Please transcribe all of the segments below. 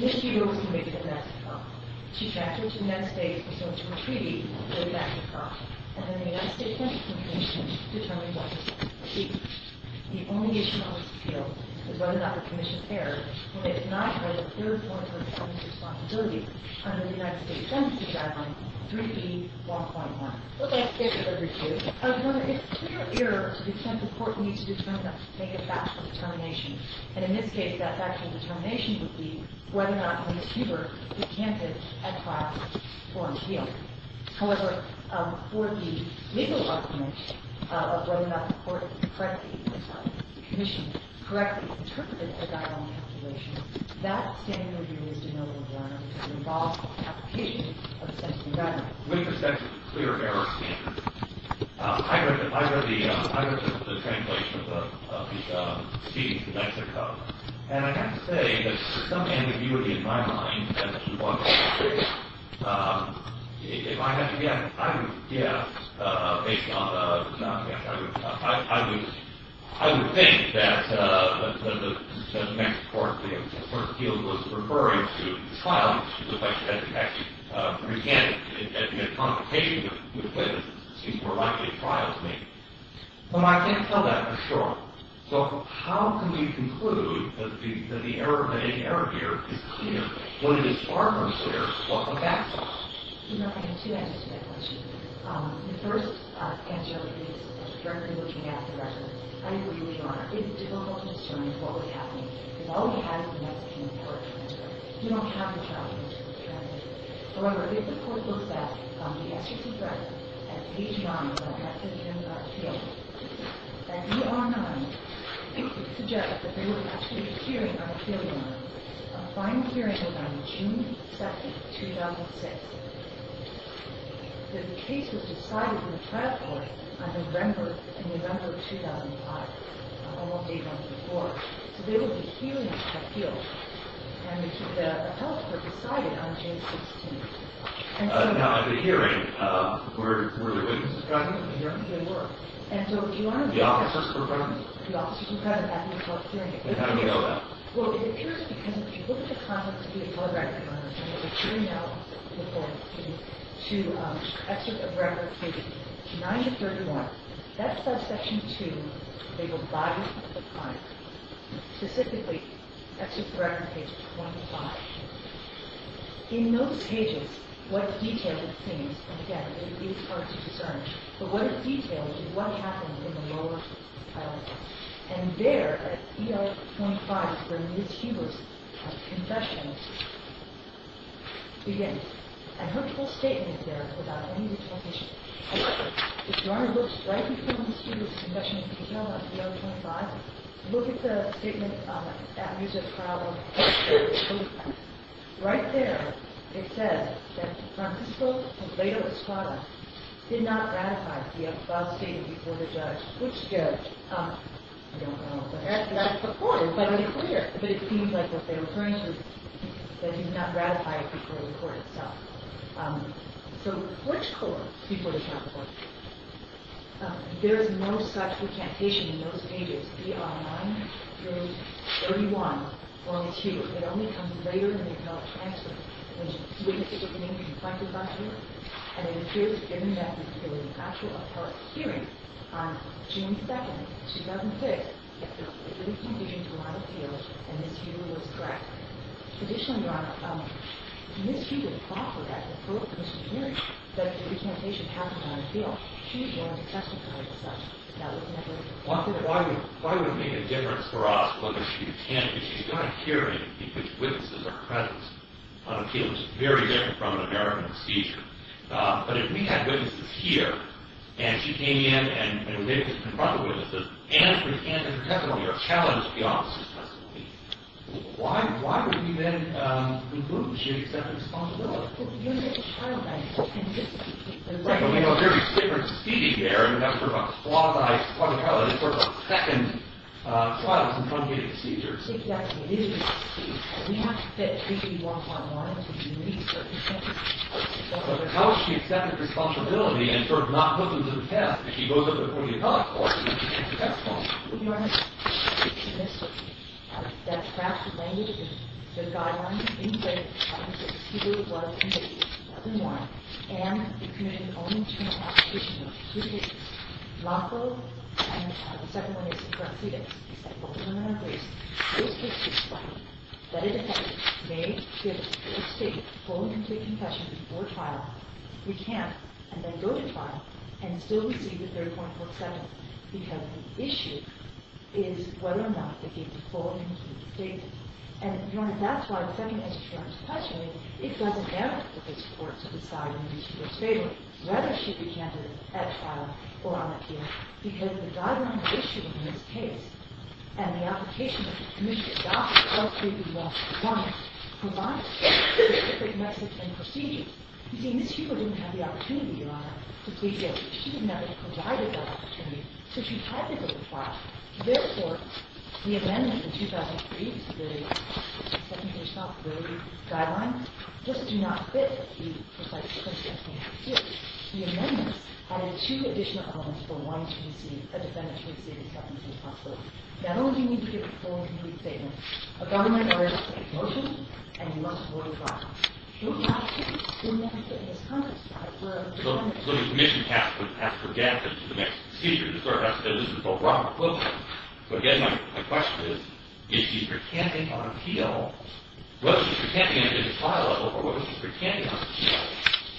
Ms. Huber was convicted of domestic violence. She transferred to the United States for social retreatment with a backup card, and then the United States Census Commission determined what to do. The only issue on this appeal is whether or not the commission erred when it denied her a third point of her family's responsibility under the United States Census Guideline 3b.1.1. But like David said, there is a clear error to the extent the court needs to make a factual determination. And in this case, that factual determination would be whether or not Ms. Huber was candid at trial for an appeal. However, for the legal argument of whether or not the commission correctly interpreted a guideline calculation, that standard would be used in no other manner to involve an application of the Census Guideline. With respect to the clear error standard, I read the translation of the speech in Mexico, and I have to say that for some ambiguity in my mind as to what happened there, if I would think that the Mexican court in the first appeal was referring to the trial, it would look like she actually resented it, and in a confrontation with witnesses, it seems more likely a trial, to me. But I can't tell that for sure. So how can we conclude that the error, that any error here is clear when it is far more clear what the facts are? You know, I have two answers to that question. The first answer is directly looking at the record. I agree with Your Honor. It is difficult to discern what was happening, because all we have is the Mexican court in Mexico. We don't have the trial in Mexico. However, if the court looks at the SEC record, at page 9, where it has to do with an appeal, at page 9, it suggests that there was actually a hearing on appeal 1. A final hearing was on June 2, 2006. That the case was decided in the trial court in November 2005, almost a month before. So there was a hearing on appeal, and the health were decided on June 16. Now, at the hearing, were there witnesses present? There were. The officers were present? The officers were present at the court hearing. How do we know that? Well, it appears because if you look at the content of the telegraphic records, and there was a hearing now before the hearing, to excerpt of record page 9 to 31, that says section 2, label bodies of the crime. Specifically, excerpt of record page 25. In those pages, what details it seems, and again, it is hard to discern, but what it details is what happened in the lower trial court. And there, at EO 25, where Ms. Hubers' confession begins. And her full statement is there, without any additional issues. If you want to look right before Ms. Hubers' confession, at EO 25, look at the statement that Mr. Crowley posted. Right there, it says that Francisco and Ledo Escobar did not ratify the upheld statement before the judge. Which judge? I don't know. That's the court. But it seems like what they're referring to is that he did not ratify it before the court itself. So, which court before the trial court? There is no such recantation in those pages. ER 9, page 31, line 2. It only comes later than the appellate transcript. And it appears that given that there was an actual appellate hearing on June 2nd, 2006, that there was confusion throughout the field, and Ms. Hubers was correct. Additionally, Your Honor, Ms. Hubers thought that, before the commission's hearing, that if the recantation happened on the field, she would want to testify herself. That was never the case. Why would it make a difference for us whether she attended? She got a hearing because witnesses are present on a field that's very different from an American procedure. But if we had witnesses here, and she came in, and we made her confront the witnesses, and as her testimony, or challenged the officer's testimony, why would we then remove her if she had accepted responsibility? Because the unit of trial, I think, can disagree. Right, but we have a very different proceeding there, and that's sort of a quasi-trial. It's sort of a second trial that's in front of the procedures. We have to fit 3.1.1 to the unit's circumstances. But how would she accept responsibility and sort of not put them to the test if she goes up to the podium to talk, or if she can't testify? Your Honor, Ms. Hubers made a mistake. That's fractured language in the guidelines. It didn't say that Ms. Hubers was an individual. She wasn't one. And the commission only took an application of two cases. The second one is in front of the proceedings. Both of them are in place. Those cases, that a defendant may give a state full and complete confession before trial, we can't, and then go to trial, and still receive the 3.47, because the issue is whether or not they gave the full and complete statement. And, Your Honor, that's why the second answer to your question, it doesn't matter if it's court to decide in Ms. Hubers' favor. It's whether she'd be candidated at trial or on appeal, because the guideline issue in this case, and the application that the commission adopted, all three of these laws provide specific Mexican procedures. You see, Ms. Hubers didn't have the opportunity, Your Honor, to plead guilty. She would never have provided that opportunity. So she had to go to trial. Therefore, the amendments in 2003, the second-page topability guideline, just do not fit the precise circumstances we have here. The amendments added two additional elements for one to receive, a defendant to receive a 3.47 as a possibility. Not only do you need to give a full and complete statement, a government-oriented motion, and you must avoid trial. You'll never get in this context, Your Honor, where a defendant... So the commission has to get into the Mexican procedure. The court has to say, this is all wrong. So, again, my question is, if she's pretending on appeal, whether she's pretending on a trial level or whether she's pretending on appeal,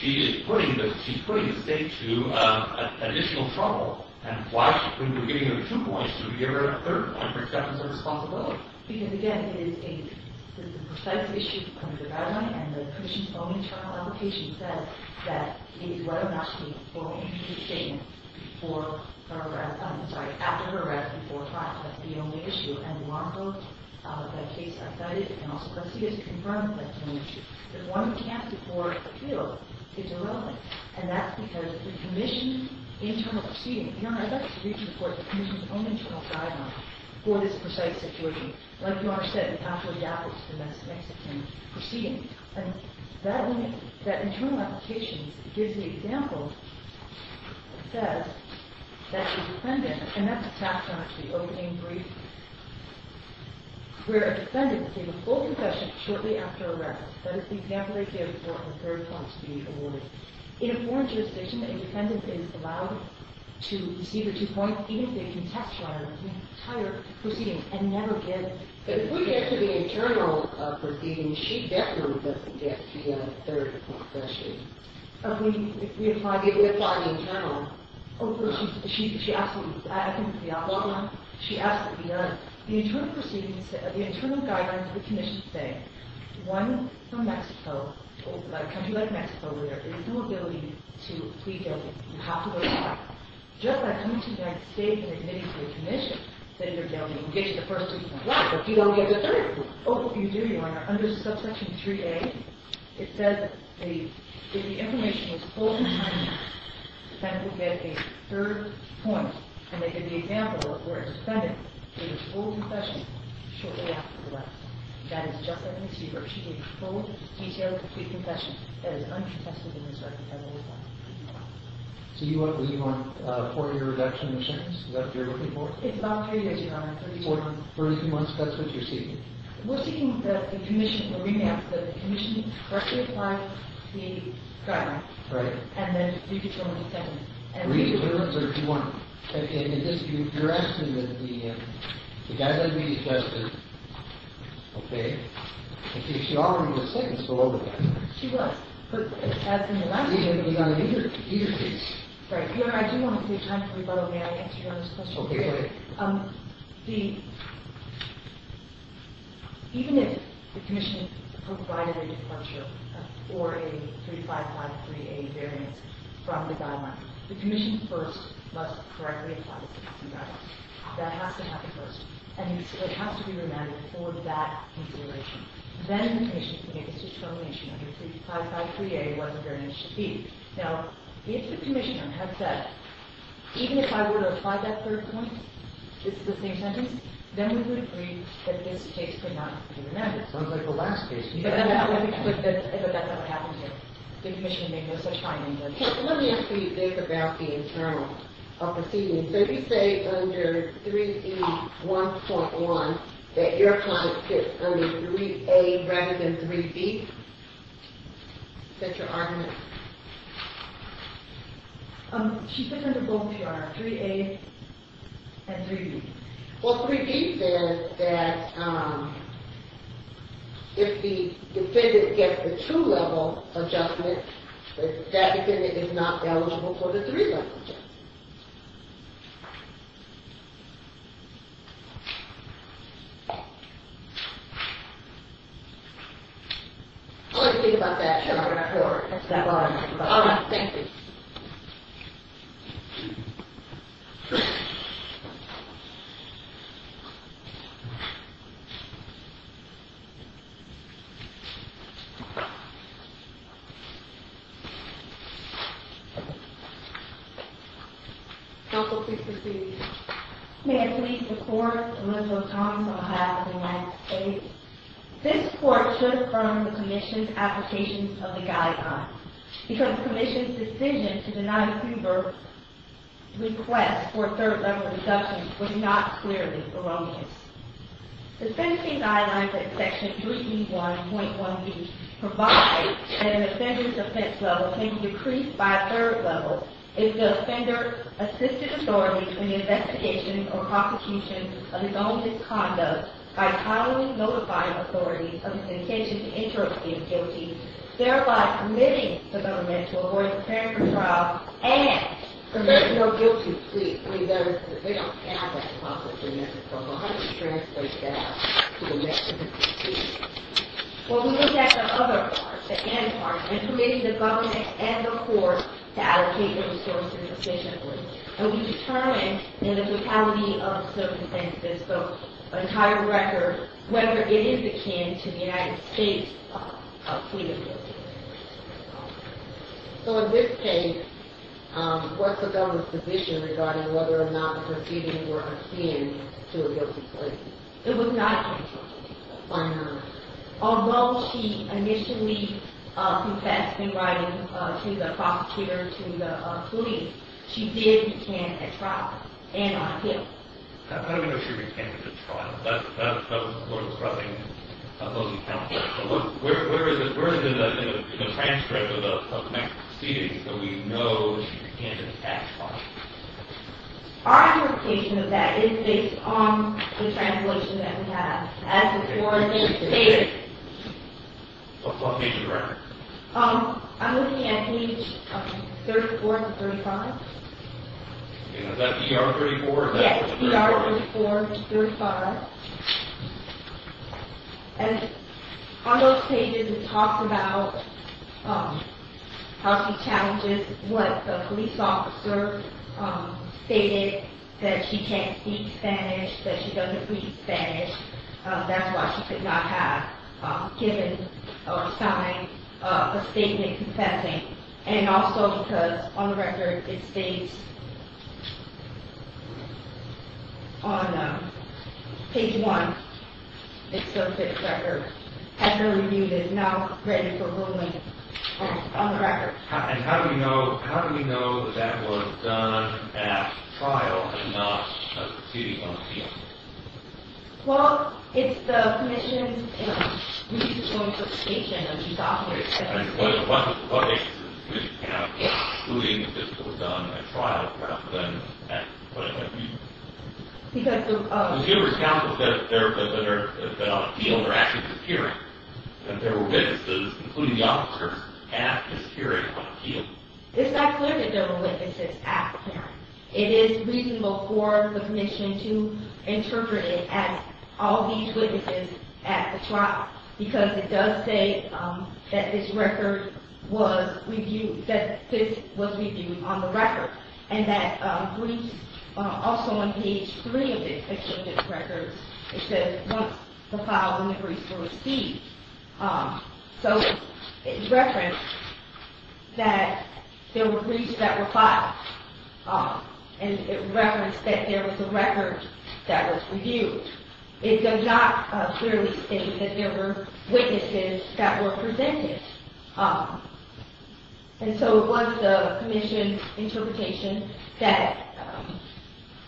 she is putting the state to additional trouble. And why couldn't we be giving her two points when we gave her a third on acceptance of responsibility? Because, again, it is a precise issue under the guideline, and the commission's own internal application says that it is right enough to give a full and complete statement after her arrest and before trial. That's the only issue. And the law enforcement case outside it can also proceed as a confrontment. That's the only issue. If one can't afford appeal, it's irrelevant. And that's because the commission's internal proceeding... Your Honor, I'd like you to read the report. The commission's own internal guideline for this precise situation. Like Your Honor said, we have to adapt it to the Mexican proceeding. And that internal application gives the example that says that the defendant... And that's attached to the opening brief, where a defendant gave a full confession shortly after arrest. That is the example they gave for her third point to be awarded. In a foreign jurisdiction, a defendant is allowed to receive her two points even if they contest her entire proceeding and never give... ...the third point question. If we apply... If we apply the internal... Oh, she absolutely... She absolutely does. The internal guidelines of the commission say one from Mexico, a country like Mexico, there is no ability to plead guilty. You have to go to trial. Just by coming to the United States and admitting to the commission that you're guilty, you get your first two points. Right, but you don't get the third point. Oh, you do, Your Honor. Under subsection 3A, it says that if the information was full and timely, the defendant would get a third point. And they give the example of where a defendant gave a full confession shortly after arrest. That is, just like in this case, where she gave a full, detailed, complete confession that is uncontested in this record. So you want a four-year reduction in the sentence? Is that what you're looking for? It's about three years, Your Honor. For three months, that's what you're seeking? We're seeking that the commission, the remand, that the commission correctly applies the crime. Right. And then you get your only sentence. Three terms, or do you want... I mean, you're asking that the guideline be adjusted. Okay. She already was sentenced below the guideline. She was. But as in the last case... It was on a later case. Right. Your Honor, I do want to take time for rebuttal. May I answer Your Honor's question? Okay, go ahead. The... Even if the commission provided a departure or a 3553A variance from the guideline, the commission first must correctly apply the sentencing guideline. That has to happen first. And it has to be remanded for that consideration. Then the commission can make its determination under 3553A what the variance should be. Now, if the commissioner had said, even if I were to apply that third point, this is the same sentence, then we would agree that this case could not be remanded. Sounds like the last case. But that's not what happened here. The commission made no such findings. Let me ask you, Dave, about the internal of proceedings. Did you say under 3B1.1 that your client gets under 3A rather than 3B? Is that your argument? Yes. She said under both, Your Honor, 3A and 3B. Well, 3B says that if the defendant gets the two-level adjustment, that defendant is not eligible for the three-level adjustment. Thank you. What do you think about that, Your Honor? That's fine. All right. Thank you. Counsel, please proceed. May I please report, Elizabeth Thomas, on behalf of the last case. This court should affirm the commission's application of the guideline because the commission's decision to deny Hoover's request for third-level reduction was not clearly erroneous. The sentencing guidelines in Section 3B1.1b provide that an offender's defense level can be decreased by a third level if the offender assisted authorities in the investigation or prosecution of his own misconduct by timely notifying authorities of his intention to interrupt his guilty, thereby committing the government to avoid preparing for trial, and committing no guilty plea for those that they don't have that possibility. How do you translate that to the next of the three? Well, we looked at the other part, the end part, and committed the government and the court to allocate the resources efficiently. And we determined in the totality of circumstances, the entire record, whether it is akin to the United States plea of guilt. So in this case, what's the government's position regarding whether or not the proceedings were akin to a guilty plea? It was not a guilty plea. Why not? Although she initially confessed in writing to the prosecutor, to the police, she did recant at trial, and on appeal. How do we know she recanted at trial? That was the court's rubbing of those accounts, right? Where is it in the transcript of the next proceedings that we know she recanted at trial? Our interpretation of that is based on the translation that we have. As the court stated... What page are you looking at? I'm looking at page 34 to 35. Is that PR 34? Yes, PR 34 to 35. And on those pages, it talks about how she challenges what the police officer stated, that she can't speak Spanish, that she doesn't speak Spanish. That's why she could not have given or signed a statement confessing. And also because, on the record, it states... on page one, it's the fifth record. After review, it is not written for ruling on the record. And how do we know that that was done at trial and not a proceeding on appeal? Well, it's the Commission's reasonable interpretation of these officers' statements. What basis does the Commission have for excluding that this was done at trial rather than at court? Because the... Because you recounted that on appeal, they're actually disappearing. That there were witnesses, including the officers, at this hearing on appeal. It's not clear that there were witnesses at the hearing. It is reasonable for the Commission to interpret it as all these witnesses at the trial because it does say that this record was reviewed, that this was reviewed on the record and that briefs... Also on page three of the exchange of records, it says, once the file and the briefs were received. So, it's referenced that there were briefs that were filed and it referenced that there was a record that was reviewed. It does not clearly state that there were witnesses that were presented. And so, it was the Commission's interpretation that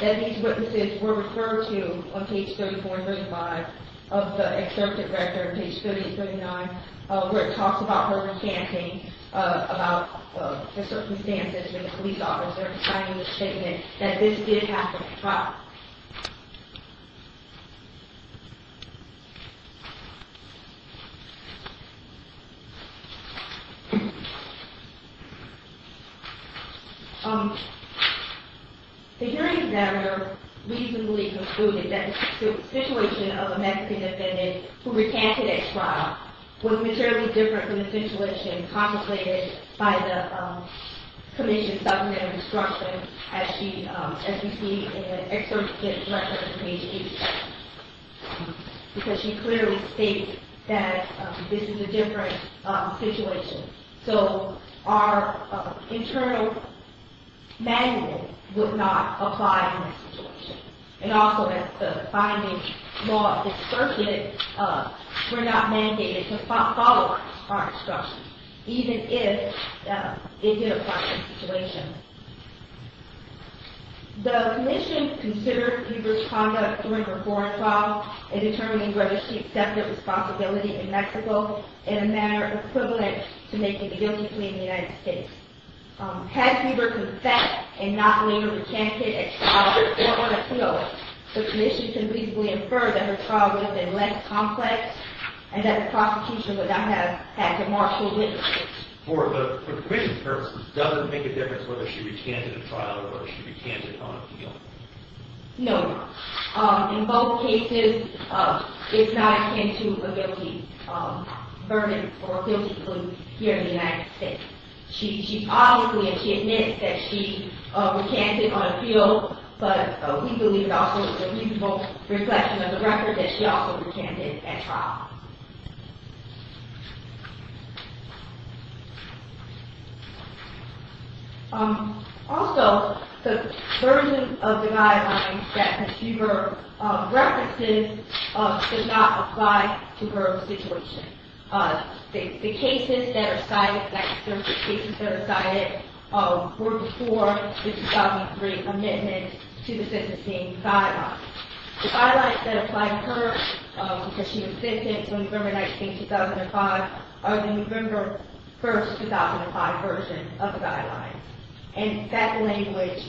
these witnesses were referred to on page 34 and 35 of the excerpted record, page 38 and 39, where it talks about her recanting about the circumstances when the police officer was signing the statement that this did happen at the trial. The hearing examiner reasonably concluded that the situation of a Mexican defendant who recanted at trial was materially different from the situation contemplated by the Commission's document of instruction as we see in the excerpted record on page 87 because she clearly stated that this is a different situation. So, our internal mandate would not apply in this situation. And also, as the finding law is circulated, we're not mandated to follow our instructions even if it did apply in this situation. The Commission considered Huber's conduct during her foreign trial in determining whether she accepted responsibility in Mexico in a manner equivalent to making a guilty plea in the United States. Had Huber confessed and not later recanted at trial or on appeal, the Commission can reasonably infer that her trial would have been less complex and that the prosecution would not have had to marshal witnesses. For the Commission's purposes, does it make a difference whether she recanted at trial or whether she recanted on appeal? No. In both cases, it's not akin to a guilty verdict or a guilty plea here in the United States. She obviously admits that she recanted on appeal, but we believe it also is a reasonable reflection of the record that she also recanted at trial. Also, the version of the guidelines that Huber references does not apply to her situation. The cases that are cited, were before the 2003 amendment to the sentencing guidelines. The guidelines that apply to her because she was sentenced on November 19, 2005 are the November 1, 2005 version of the guidelines. And that language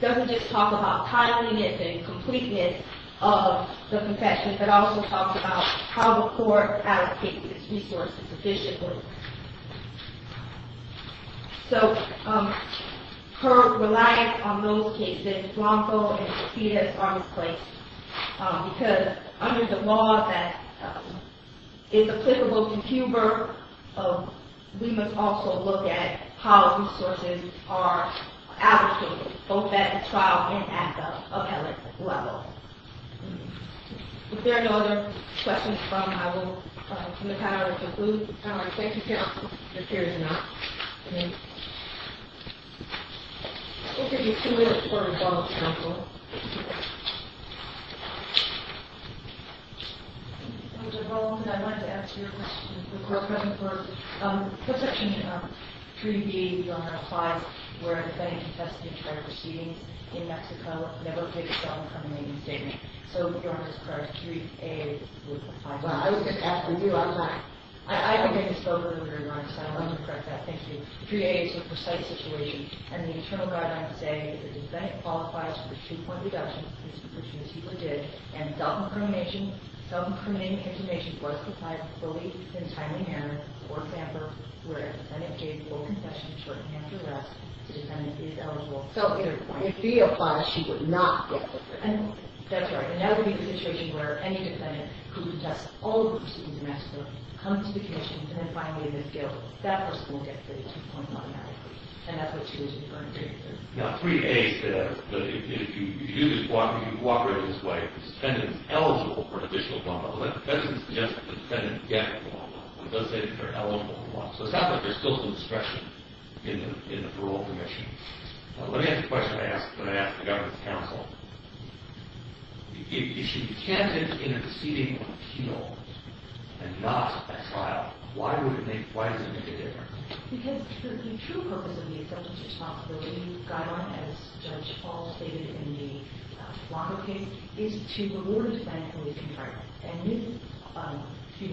doesn't just talk about timeliness and completeness of the confession, but also talks about how the court allocates its resources efficiently. So, her reliance on those cases, Blanco and Petitas, are misplaced. Because under the law that is applicable to Huber, we must also look at how resources are allocated, both at the trial and at the appellate level. If there are no other questions, I will conclude the panel. Thank you, counsel, if there is none. We'll give you two minutes for rebuttal, if you want to go. Mr. Holmes, I wanted to ask you a question. Of course. Section 3B, your Honor, applies where a defendant confessed to a charge of exceeding in Mexico never takes on an amnesty. So, if your Honor is correct, 3A would apply. Well, I was just asking you, I'm not... I think I just spoke over your remarks, so I wanted to correct that, thank you. 3A is a precise situation, and the internal guidelines say that the defendant qualifies for the two-point deduction, which Ms. Huber did, and self-incriminating intimidation was applied fully in a timely manner, for example, where a defendant gave full confession shorthand to arrest, the defendant is eligible... So, if B applies, she would not get the... That's right. And that would be the situation where any defendant who confessed all exceeding in Mexico comes to the commission, and then finally in this case, that person will get the two-point automatically. And that's what she was referring to. Now, 3A says that if you cooperate in this way, the defendant is eligible for additional guamma. But that doesn't suggest that the defendant is getting guamma. It does say that they're eligible for guamma. So, it sounds like there's still some discretion in the parole commission. Let me ask the question I asked when I asked the government's counsel. If she can't get interceding on a penal and not a trial, why would it make... Why does it make a difference? Because the true purpose of the effective responsibility guideline, as Judge Hall stated in the Longo case, is to reward the defendant in this environment. And with... She's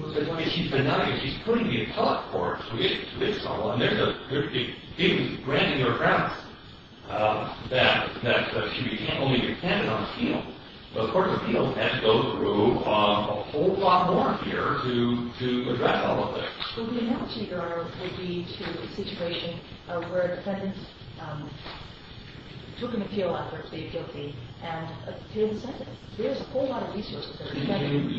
putting the appellate court to this level, and there's a... She's granting her grounds that she can't only get a sentence on appeal. But the court's appeal has to go through a whole lot more here to address all of this. Well, the analogy there would be to a situation where a defendant took an appeal after a plea of guilty, and he didn't send it. There's a whole lot of resources there.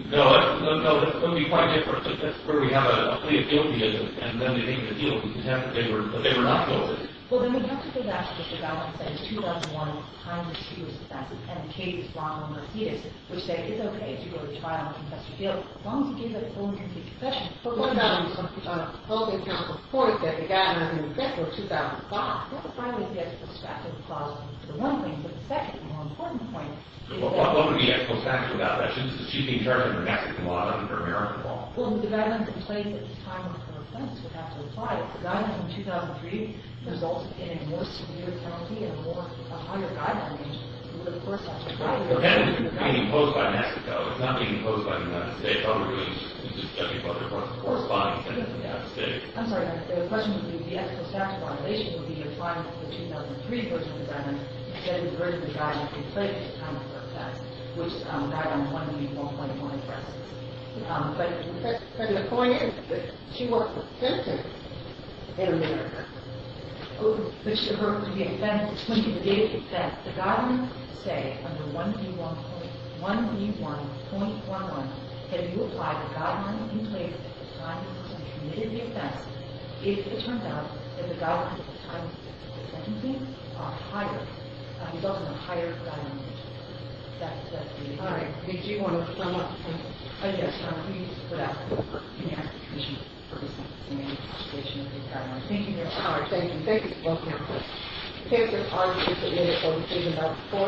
No, it would be quite different. If that's where we have a plea of guilty, and then they make an appeal to contempt, but they were not guilty. Well, then we'd have to go back to what the government says in 2001, the time that she was arrested, and Katie's block on Mercedes, which said it's okay to go to trial and confess your guilt as long as you give a full and complete confession. But what about on a public health report that began in November 2005? That would probably be a prospective clause for the one thing, but the second, the more important point... What would be a prospective about that? She's being charged under Mexican law, not under American law. Well, the guideline in place at the time of her offense would have to apply. If the guideline in 2003 results in a more severe penalty and a higher guideline age, it would, of course, have to apply. Well, if the defendant is being imposed by Mexico, it's not being imposed by the United States. It's probably just a subject matter that's corresponding to the United States. I'm sorry. The question would be, if the actual statute of violation would be applying to the 2003 version of the guideline instead of the version of the guideline that's in place at the time of her offense, which guideline one would be 1.136. But the point is that she was a sentence in America. But she referred to the offense, it's linked to the date of the offense. The guidelines say under 1B1.11, that if you apply the guideline in place at the time the defendant committed the offense, if it turns out that the guidelines at the time of the sentence are higher, that results in a higher guideline age. That's the... All right. Did you want to sum up? Yes, please, without any expectations. Thank you. Thank you. Thank you. Thank you for talking to us. Thank you. Thank you.